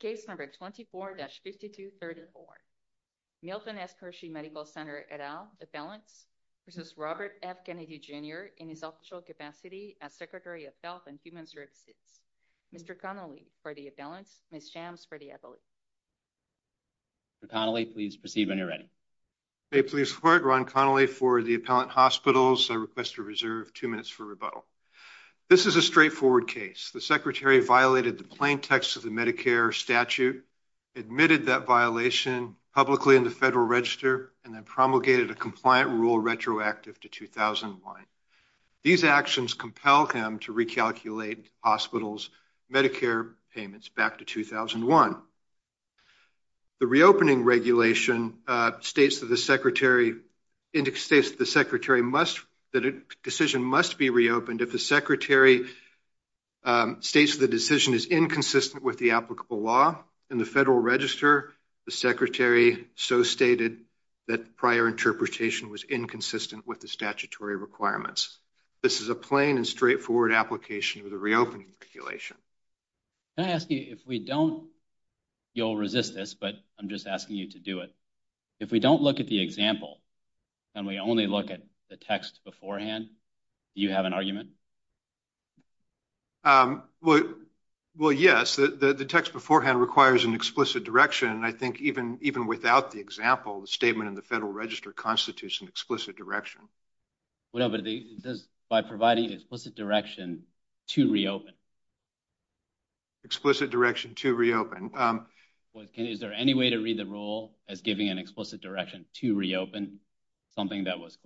Case number 24-5234. Milton S. Hershey Medical Center et al. Appellants v. Robert F. Kennedy Jr. in his official capacity as Secretary of Health and Human Services. Mr. Connolly for the appellants. Ms. Chams for the appellants. Mr. Connolly, please proceed when you're ready. May it please the court, Ron Connolly for the appellant hospitals. I request a reserve two minutes for rebuttal. This is a straightforward case. The secretary violated the plain text of the statute, admitted that violation publicly in the Federal Register, and then promulgated a compliant rule retroactive to 2001. These actions compel him to recalculate hospitals' Medicare payments back to 2001. The reopening regulation states that the decision must be reopened if the secretary states the decision is inconsistent with the applicable law in the Federal Register. The secretary so stated that prior interpretation was inconsistent with the statutory requirements. This is a plain and straightforward application of the reopening regulation. Can I ask you if we don't, you'll resist this, but I'm just asking you to do it. If we don't look at the example and we only look at the text beforehand, do you have an argument? Well, yes, the text beforehand requires an explicit direction, and I think even even without the example, the statement in the Federal Register constitutes an explicit direction. Well, but it says by providing explicit direction to reopen. Explicit direction to reopen. Is there any way to read the rule as giving an explicit direction to reopen something that was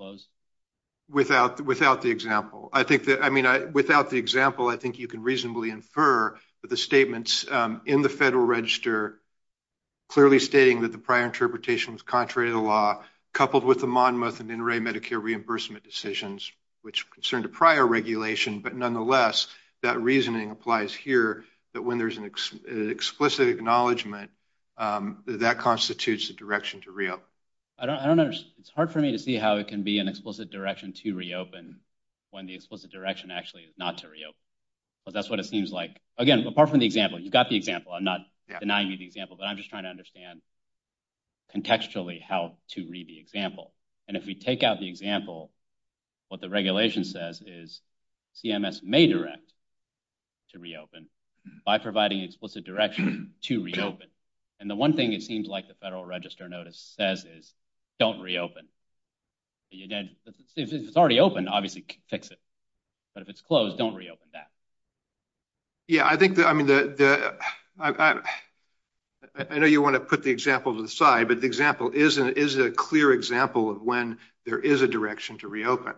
Without without the example, I think that I mean, without the example, I think you can reasonably infer that the statements in the Federal Register clearly stating that the prior interpretation was contrary to the law, coupled with the Monmouth and Inouye Medicare reimbursement decisions, which concerned a prior regulation. But nonetheless, that reasoning applies here, that when there's an explicit acknowledgement that constitutes the direction to reopen. It's hard for me to see how it can be an explicit direction to reopen when the explicit direction actually is not to reopen, because that's what it seems like. Again, apart from the example, you've got the example. I'm not denying the example, but I'm just trying to understand contextually how to read the example. And if we take out the example, what the regulation says is CMS may direct to reopen by providing explicit direction to reopen. And the one thing it seems like the Federal Register notice says is, don't reopen. If it's already open, obviously fix it. But if it's closed, don't reopen that. Yeah, I think that I mean, I know you want to put the example to the side, but the example is a clear example of when there is a direction to reopen.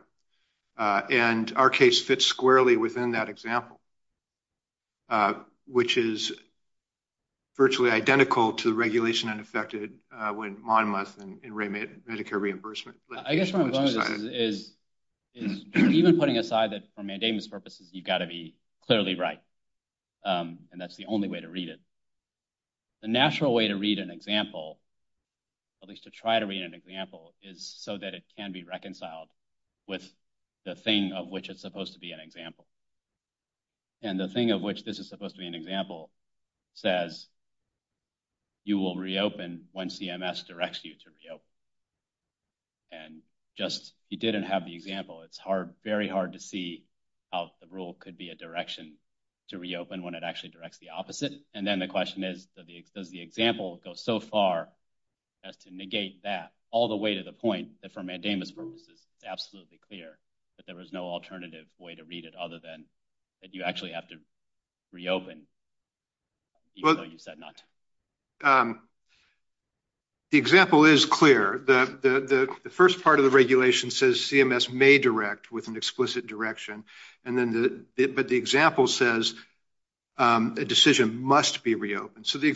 And our case fits squarely within that example, which is virtually identical to the regulation unaffected when Monmouth and Medicare reimbursement. I guess what I'm going to say is, even putting aside that for mandamus purposes, you've got to be clearly right. And that's the only way to read it. The natural way to read an example, at least to try to read an example, is so that it can be reconciled with the thing of which it's supposed to be an example. And the thing of which this is supposed to be an example says, you will reopen when CMS directs you to reopen. And just, you didn't have the example. It's hard, very hard to see how the rule could be a direction to reopen when it actually directs the opposite. And then the question is, does the example go so far as to negate that all the way to the point that for mandamus purposes, it's absolutely clear that there was no alternative way to read it other than that you actually have to reopen even though you said not. The example is clear. The first part of the regulation says CMS may direct with an explicit direction. But the example says a decision must be reopened. So the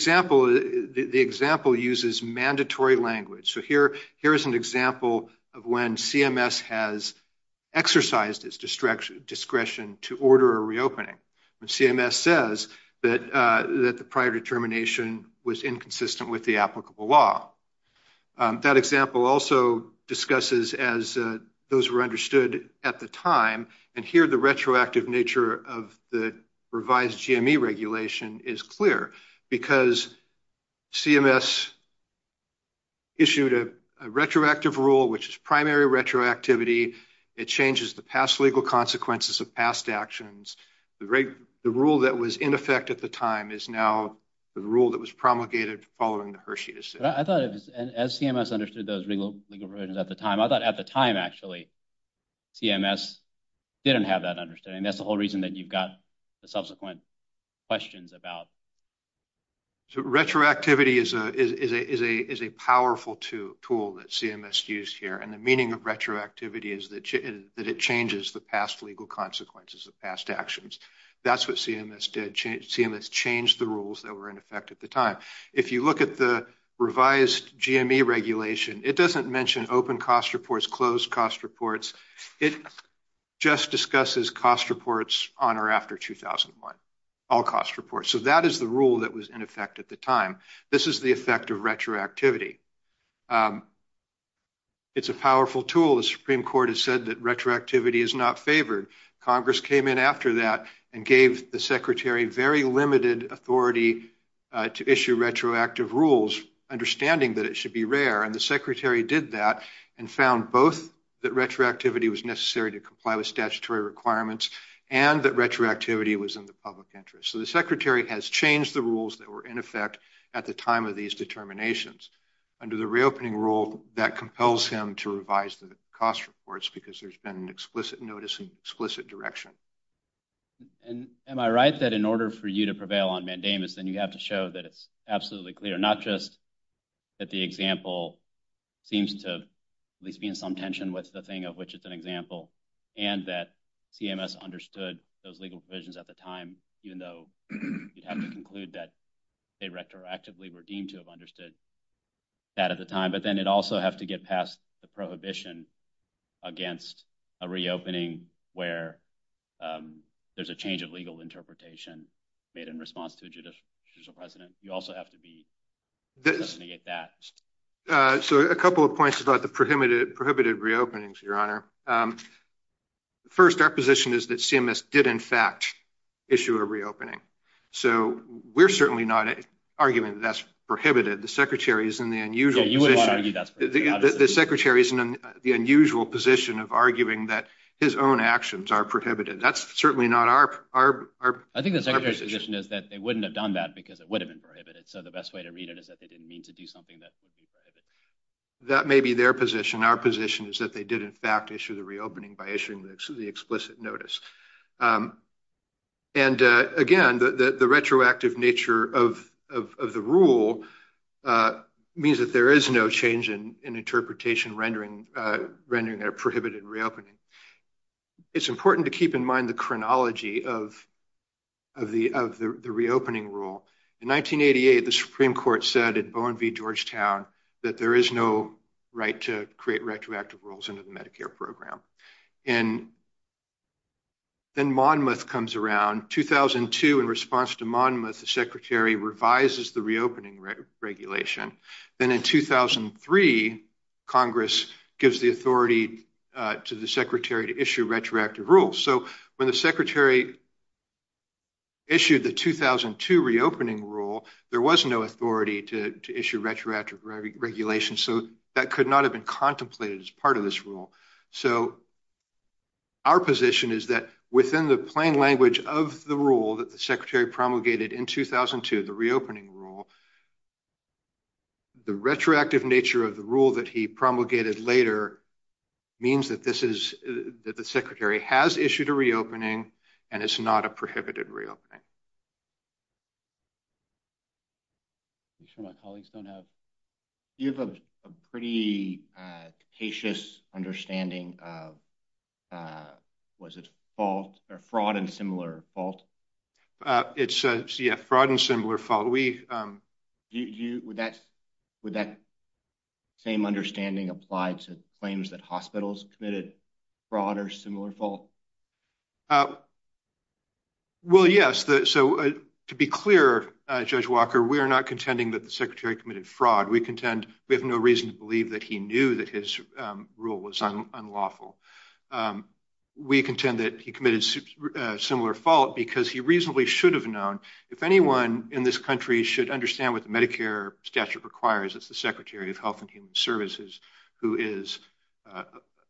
example uses mandatory language. So here is an example of when CMS has exercised its discretion to order a reopening. CMS says that the prior determination was inconsistent with the applicable law. That example also discusses as those were understood at the time. And here the retroactive nature of the revised GME regulation is clear. Because CMS issued a retroactive rule which is primary retroactivity. It changes the past legal consequences of past actions. The rule that was in effect at the time is now the rule that was promulgated following the Hershey decision. But I thought as CMS understood those legal provisions at the time, I thought at the time actually CMS didn't have that understanding. That's the whole reason that you've got the subsequent questions about. Retroactivity is a powerful tool that CMS used here. And the meaning of retroactivity is that it changes the past legal consequences of past actions. That's what CMS did. CMS changed the rules that were in effect at the time. If you look at the revised GME regulation, it doesn't mention open cost reports, closed cost reports. It just discusses cost reports on or after 2001. All cost reports. So that is the rule that was in effect at the time. This is the effect of retroactivity. It's a powerful tool. The Supreme Court has said that retroactivity is not favored. Congress came in after that and gave the Secretary very limited authority to issue retroactive rules, understanding that it should be rare. And the Secretary did that and found both that retroactivity was necessary to comply with statutory requirements and that retroactivity was in the public interest. So the Secretary has changed the rules that were in effect at the time of these determinations. Under the reopening rule, that compels him to revise the cost reports because there's been an explicit notice and explicit direction. And am I right that in order for you to prevail on mandamus, then you have to show that it's absolutely clear, not just that the example seems to at least be in some tension with the thing of which it's an example and that CMS understood those legal provisions at the time, even though you'd have to conclude that they retroactively were deemed to have understood that at the time. But then it also have to get past the prohibition against a reopening where there's a change of legal interpretation made in response to a judicial president. You also have to be... So a couple of points about the prohibited reopenings, Your Honor. First, our position is that CMS did in fact issue a reopening. So we're certainly not arguing that that's prohibited. The Secretary is in the unusual position of arguing that his own actions are prohibited. That's certainly not our position. I think the Secretary's position is that they wouldn't have done that because it would have been prohibited. So the best way to read it is that they didn't mean to do something that would be prohibited. That may be their position. Our position is that they did in fact issue the reopening by issuing the explicit notice. And again, the retroactive nature of the rule means that there is no change in interpretation rendering a prohibited reopening. It's important to keep in mind the chronology of the reopening rule. In 1988, the Supreme Court said at Bowen v. Georgetown that there is no right to create retroactive rules under the Medicare program. And then Monmouth comes around. 2002, in response to Monmouth, the Secretary revises the reopening regulation. Then in 2003, Congress gives the authority to the Secretary to issue retroactive rules. So when the Secretary issued the 2002 reopening rule, there was no authority to issue retroactive regulations. So that could not have been contemplated as part of this rule. So our position is that within the plain language of the rule that the Secretary promulgated in 2002, the reopening rule, the retroactive nature of the rule that he promulgated later means that the Secretary has issued a reopening and it's not a prohibited reopening. I'm sure my colleagues don't have. You have a pretty cautious understanding of, was it fault or fraud and similar fault? It's a fraud and similar fault. Would that same understanding apply to claims that hospitals committed fraud or similar fault? Well, yes. So to be clear, Judge Walker, we are not contending that the Secretary committed fraud. We contend we have no reason to believe that he knew that his rule was unlawful. We contend that he committed similar fault because he reasonably should have known. If anyone in this country should understand what the Medicare statute requires, it's the Secretary of Health and Human Services who is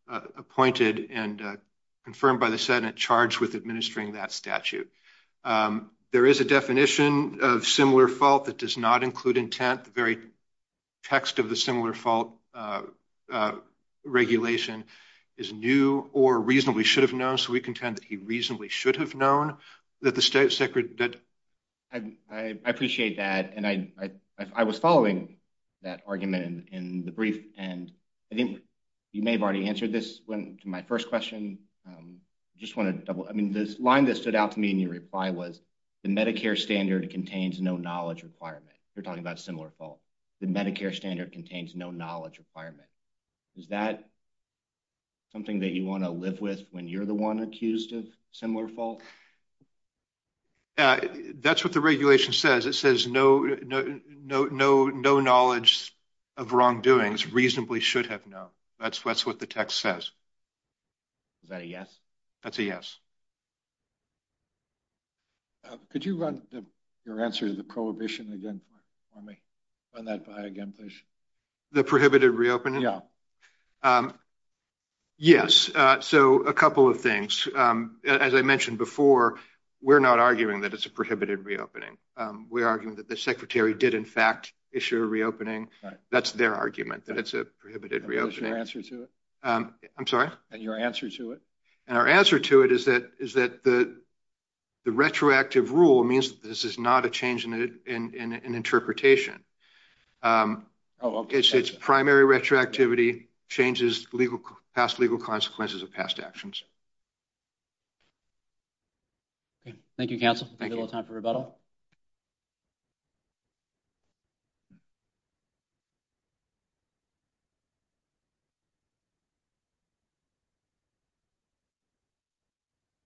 appointed and confirmed by the Senate charged with administering that statute. There is a definition of similar fault that does not include intent. The very text of the similar fault regulation is new or reasonably should have known. So we contend that he reasonably should have known that the Secretary... I appreciate that and I was following that argument in the brief and I think you may have already answered this when to my first question. I just want to double, I mean, this line that stood out to me in your reply was the Medicare standard contains no knowledge requirement. You're talking about similar fault. The Medicare standard contains no knowledge requirement. Is that something that you want to live with when you're the one accused of fault? That's what the regulation says. It says no knowledge of wrongdoings, reasonably should have known. That's what the text says. Is that a yes? That's a yes. Could you run your answer to the prohibition again for me? Run that by again, please. The prohibited reopening? Yeah. Yes. So a couple of things. As I mentioned before, we're not arguing that it's a prohibited reopening. We're arguing that the Secretary did in fact issue a reopening. That's their argument that it's a prohibited reopening. And what's your answer to it? I'm sorry? And your answer to it? And our answer to it is that the retroactive rule means that this is not a change in interpretation. It's primary retroactivity changes past legal consequences of past actions. Thank you, counsel. We have a little time for rebuttal.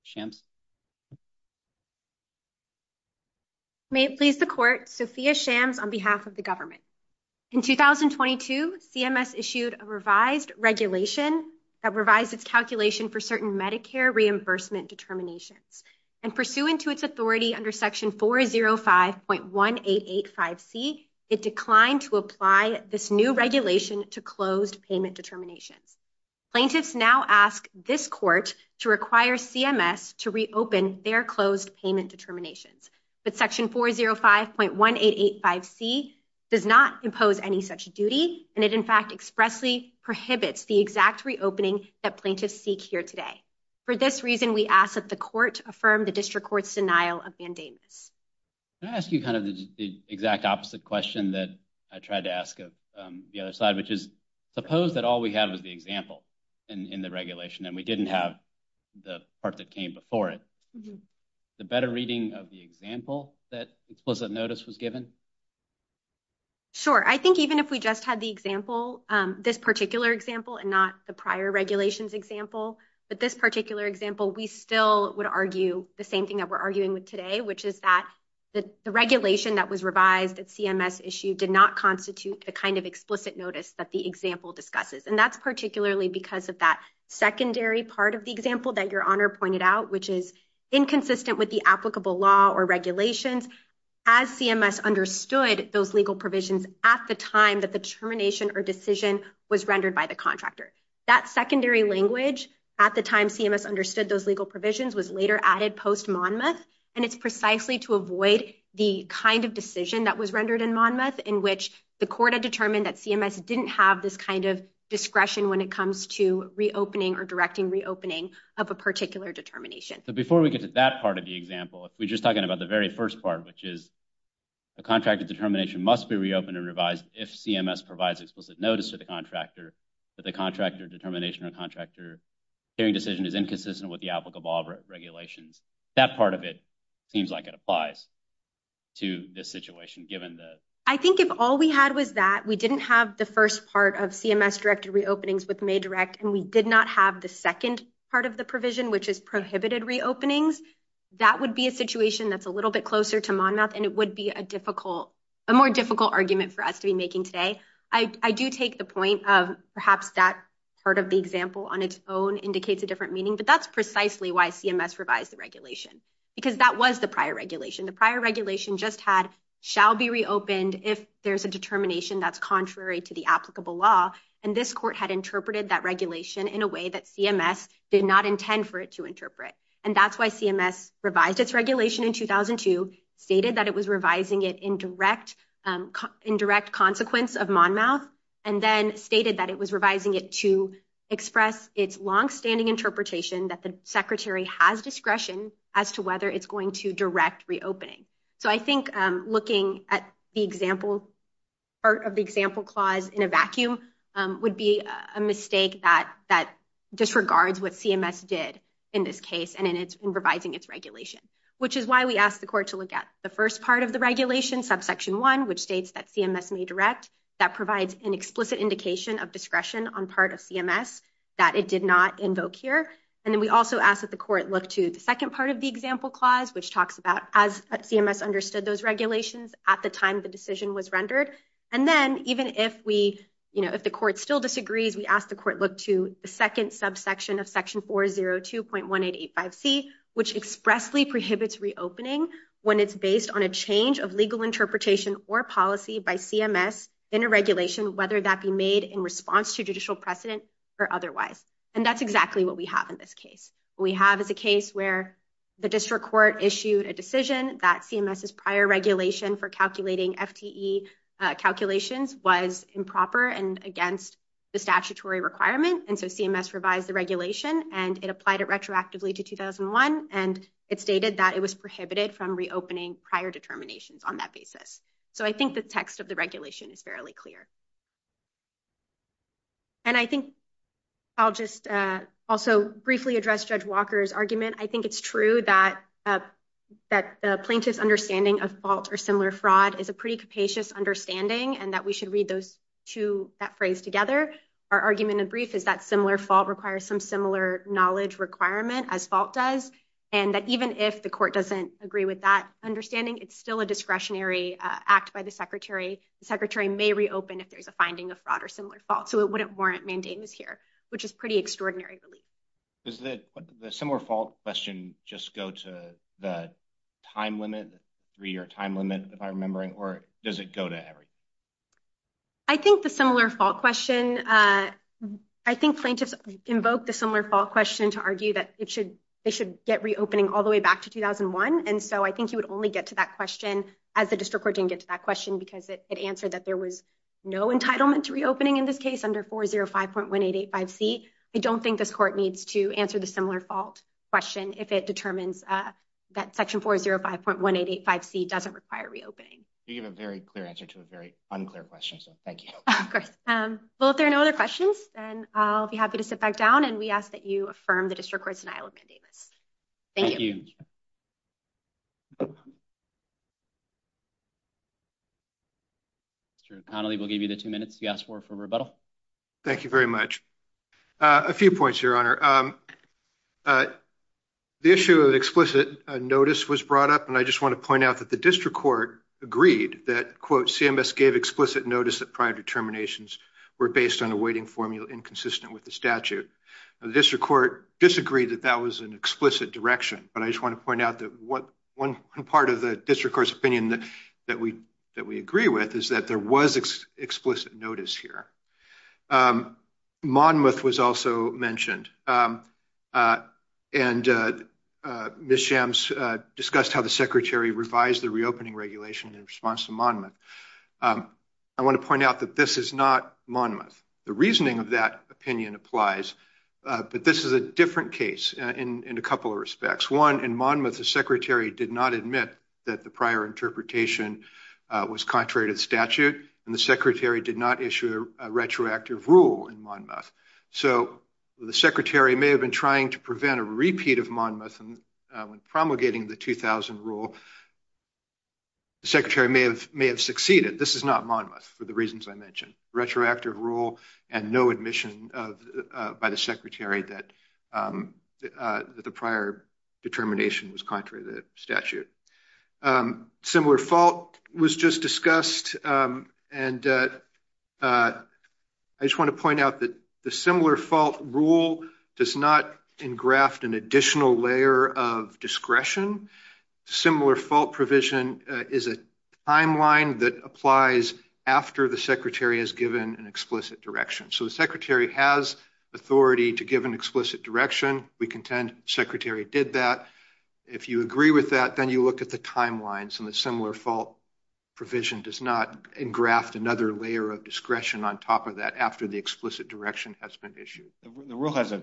Shams. May it please the court, Sophia Shams on behalf of the government. In 2022, CMS issued a revised regulation that revised its calculation for certain Medicare reimbursement determinations. And pursuant to its authority under section 405.1885C, it declined to apply this new regulation to closed payment determinations. Plaintiffs now ask this court to require CMS to reopen their closed payment determinations. But section 405.1885C does not impose any such duty. And it in fact expressly prohibits the exact reopening that plaintiffs seek here today. For this reason, we ask that the court affirm the district court's denial of mandamus. Can I ask you kind of the exact opposite question that I tried to ask of the other side, which is suppose that all we have is the example in the regulation and we didn't have the part that came before it. The better reading of the example that explicit notice was given? Sure. I think even if we just had the example, this particular example and not the prior regulations example, but this particular example, we still would argue the same thing that we're arguing with today, which is that the regulation that was revised at CMS issue did not constitute the kind of explicit notice that the example discusses. And that's particularly because of that secondary part of the example that your honor pointed out, which is inconsistent with the applicable law or regulations as CMS understood those legal provisions at the time that the termination or decision was rendered by the contractor. That secondary language at the time CMS understood those legal provisions was later added post Monmouth. And it's precisely to avoid the kind of decision that was rendered in Monmouth in which the court had determined that CMS didn't have this kind of discretion when it comes to reopening or directing reopening of a particular determination. So before we get to that part of the example, if we just talking about the very first part, which is a contractor determination must be reopened and revised if CMS provides explicit notice to the contractor that the contractor determination or contractor hearing decision is inconsistent with the applicable regulations, that part of it seems like it applies to this situation, given the... I think if all we had was that we didn't have the first part of CMS directed reopenings with MADirect and we did not have the second part of the provision, which is prohibited reopenings, that would be a situation that's a little bit closer to Monmouth and it would be a difficult, a more difficult argument for us to be making today. I do take the point of perhaps that part of the example on its own indicates a different meaning, but that's precisely why CMS revised the regulation because that was the prior regulation. The prior regulation just had shall be reopened if there's a determination that's contrary to the applicable law. And this court had interpreted that regulation in a way that CMS did not intend for it to interpret. And that's why CMS revised its regulation in 2002, stated that it was revising it in direct consequence of Monmouth, and then stated that it was revising it to express its longstanding interpretation that the secretary has discretion as to whether it's going to direct reopening. So I think looking at the example part of the example clause in a vacuum would be a mistake that disregards what CMS did in this case and in revising its regulation, which is why we asked the court to look at the first part of the regulation, subsection one, which states that CMS may direct. That provides an explicit indication of discretion on part of CMS that it did not invoke here. And then we also asked that the court look to the second part of the example clause, which talks about as CMS understood those regulations at the time the decision was rendered. And then even if we, you know, if the court still disagrees, we ask the court look to the second subsection of section 402.1885C, which expressly prohibits reopening when it's based on a change of interpretation or policy by CMS in a regulation, whether that be made in response to judicial precedent or otherwise. And that's exactly what we have in this case. We have is a case where the district court issued a decision that CMS's prior regulation for calculating FTE calculations was improper and against the statutory requirement. And so CMS revised the regulation, and it applied it retroactively to 2001, and it stated that it was prohibited from reopening prior determinations on that basis. So I think the text of the regulation is fairly clear. And I think I'll just also briefly address Judge Walker's argument. I think it's true that that the plaintiff's understanding of fault or similar fraud is a pretty capacious understanding, and that we should read those two, that phrase together. Our argument in brief is that similar fault requires some similar knowledge requirement as fault does, and that even if the court doesn't agree with that understanding, it's still a discretionary act by the secretary. The secretary may reopen if there's a finding of fraud or similar fault, so it wouldn't warrant mandamus here, which is pretty extraordinary relief. Does the similar fault question just go to the time limit, three-year time limit, if I'm remembering, or does it go to every? I think the similar fault question, I think plaintiffs invoke the similar fault question to argue that they should get reopening all the way back to 2001, and so I think you would only get to that question as the district court didn't get to that question because it answered that there was no entitlement to reopening in this case under 405.1885C. I don't think this court needs to answer the similar fault question if it determines that section 405.1885C doesn't require reopening. You gave a very clear answer to a very unclear question, so thank you. Of course. Well, if there are no other questions, then I'll be happy to sit back down, and we ask that you affirm the district court's denial of mandamus. Thank you. Mr. Connolly, we'll give you the two minutes you asked for for rebuttal. Thank you very much. A few points, Your Honor. The issue of explicit notice was brought up, and I just want to point out that the district court agreed that, quote, CMS gave explicit notice that prior determinations were based on a weighting formula inconsistent with the statute. The district court disagreed that that was an explicit direction, but I just want to point out that one part of the district court's opinion that we agree with is that there was explicit notice here. Monmouth was also mentioned, and Ms. Shams discussed how the Secretary revised the reopening regulation in response to Monmouth. I want to point out that this is not Monmouth. The reasoning of that opinion applies, but this is a different case in a couple of respects. One, in Monmouth, the Secretary did not admit that the prior interpretation was contrary to the statute, and the Secretary did not issue a retroactive rule in Monmouth. So the Secretary may have been trying to prevent a repeat of Monmouth when promulgating the 2000 rule. The Secretary may have succeeded. This is not Monmouth for the reasons I mentioned. Retroactive rule, and no admission by the Secretary that the prior determination was contrary to the statute. Similar fault was just discussed, and I just want to point out that the similar fault rule does not engraft an additional layer of discretion. Similar fault provision is a timeline that applies after the Secretary is given an explicit direction. So the Secretary has authority to give an explicit direction. We contend the Secretary did that. If you agree with that, then you look at the timelines, and the similar fault provision does not engraft another layer of discretion on top of that after the explicit direction has been issued. The rule has a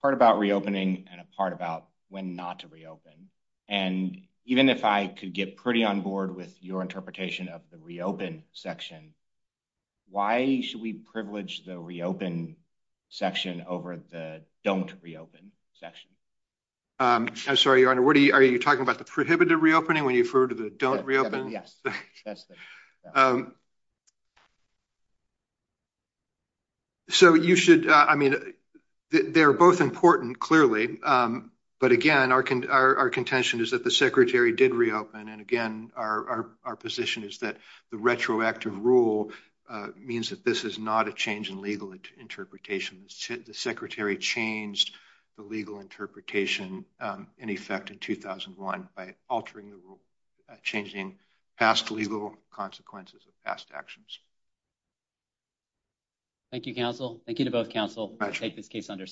part about reopening and a part about when not to reopen, and even if I could get pretty on board with your interpretation of the reopen section, why should we privilege the reopen section over the don't reopen section? I'm sorry, Your Honor, are you talking about the prohibited reopening when you refer to the don't reopen? So you should, I mean, they're both important clearly, but again, our contention is that the Secretary did reopen, and again, our position is that the retroactive rule means that this is not a change in legal interpretation. The Secretary changed the legal interpretation in effect in 2001 by altering the rule, changing past legal consequences of past actions. Thank you, counsel. Thank you to both counsel to take this case under submission.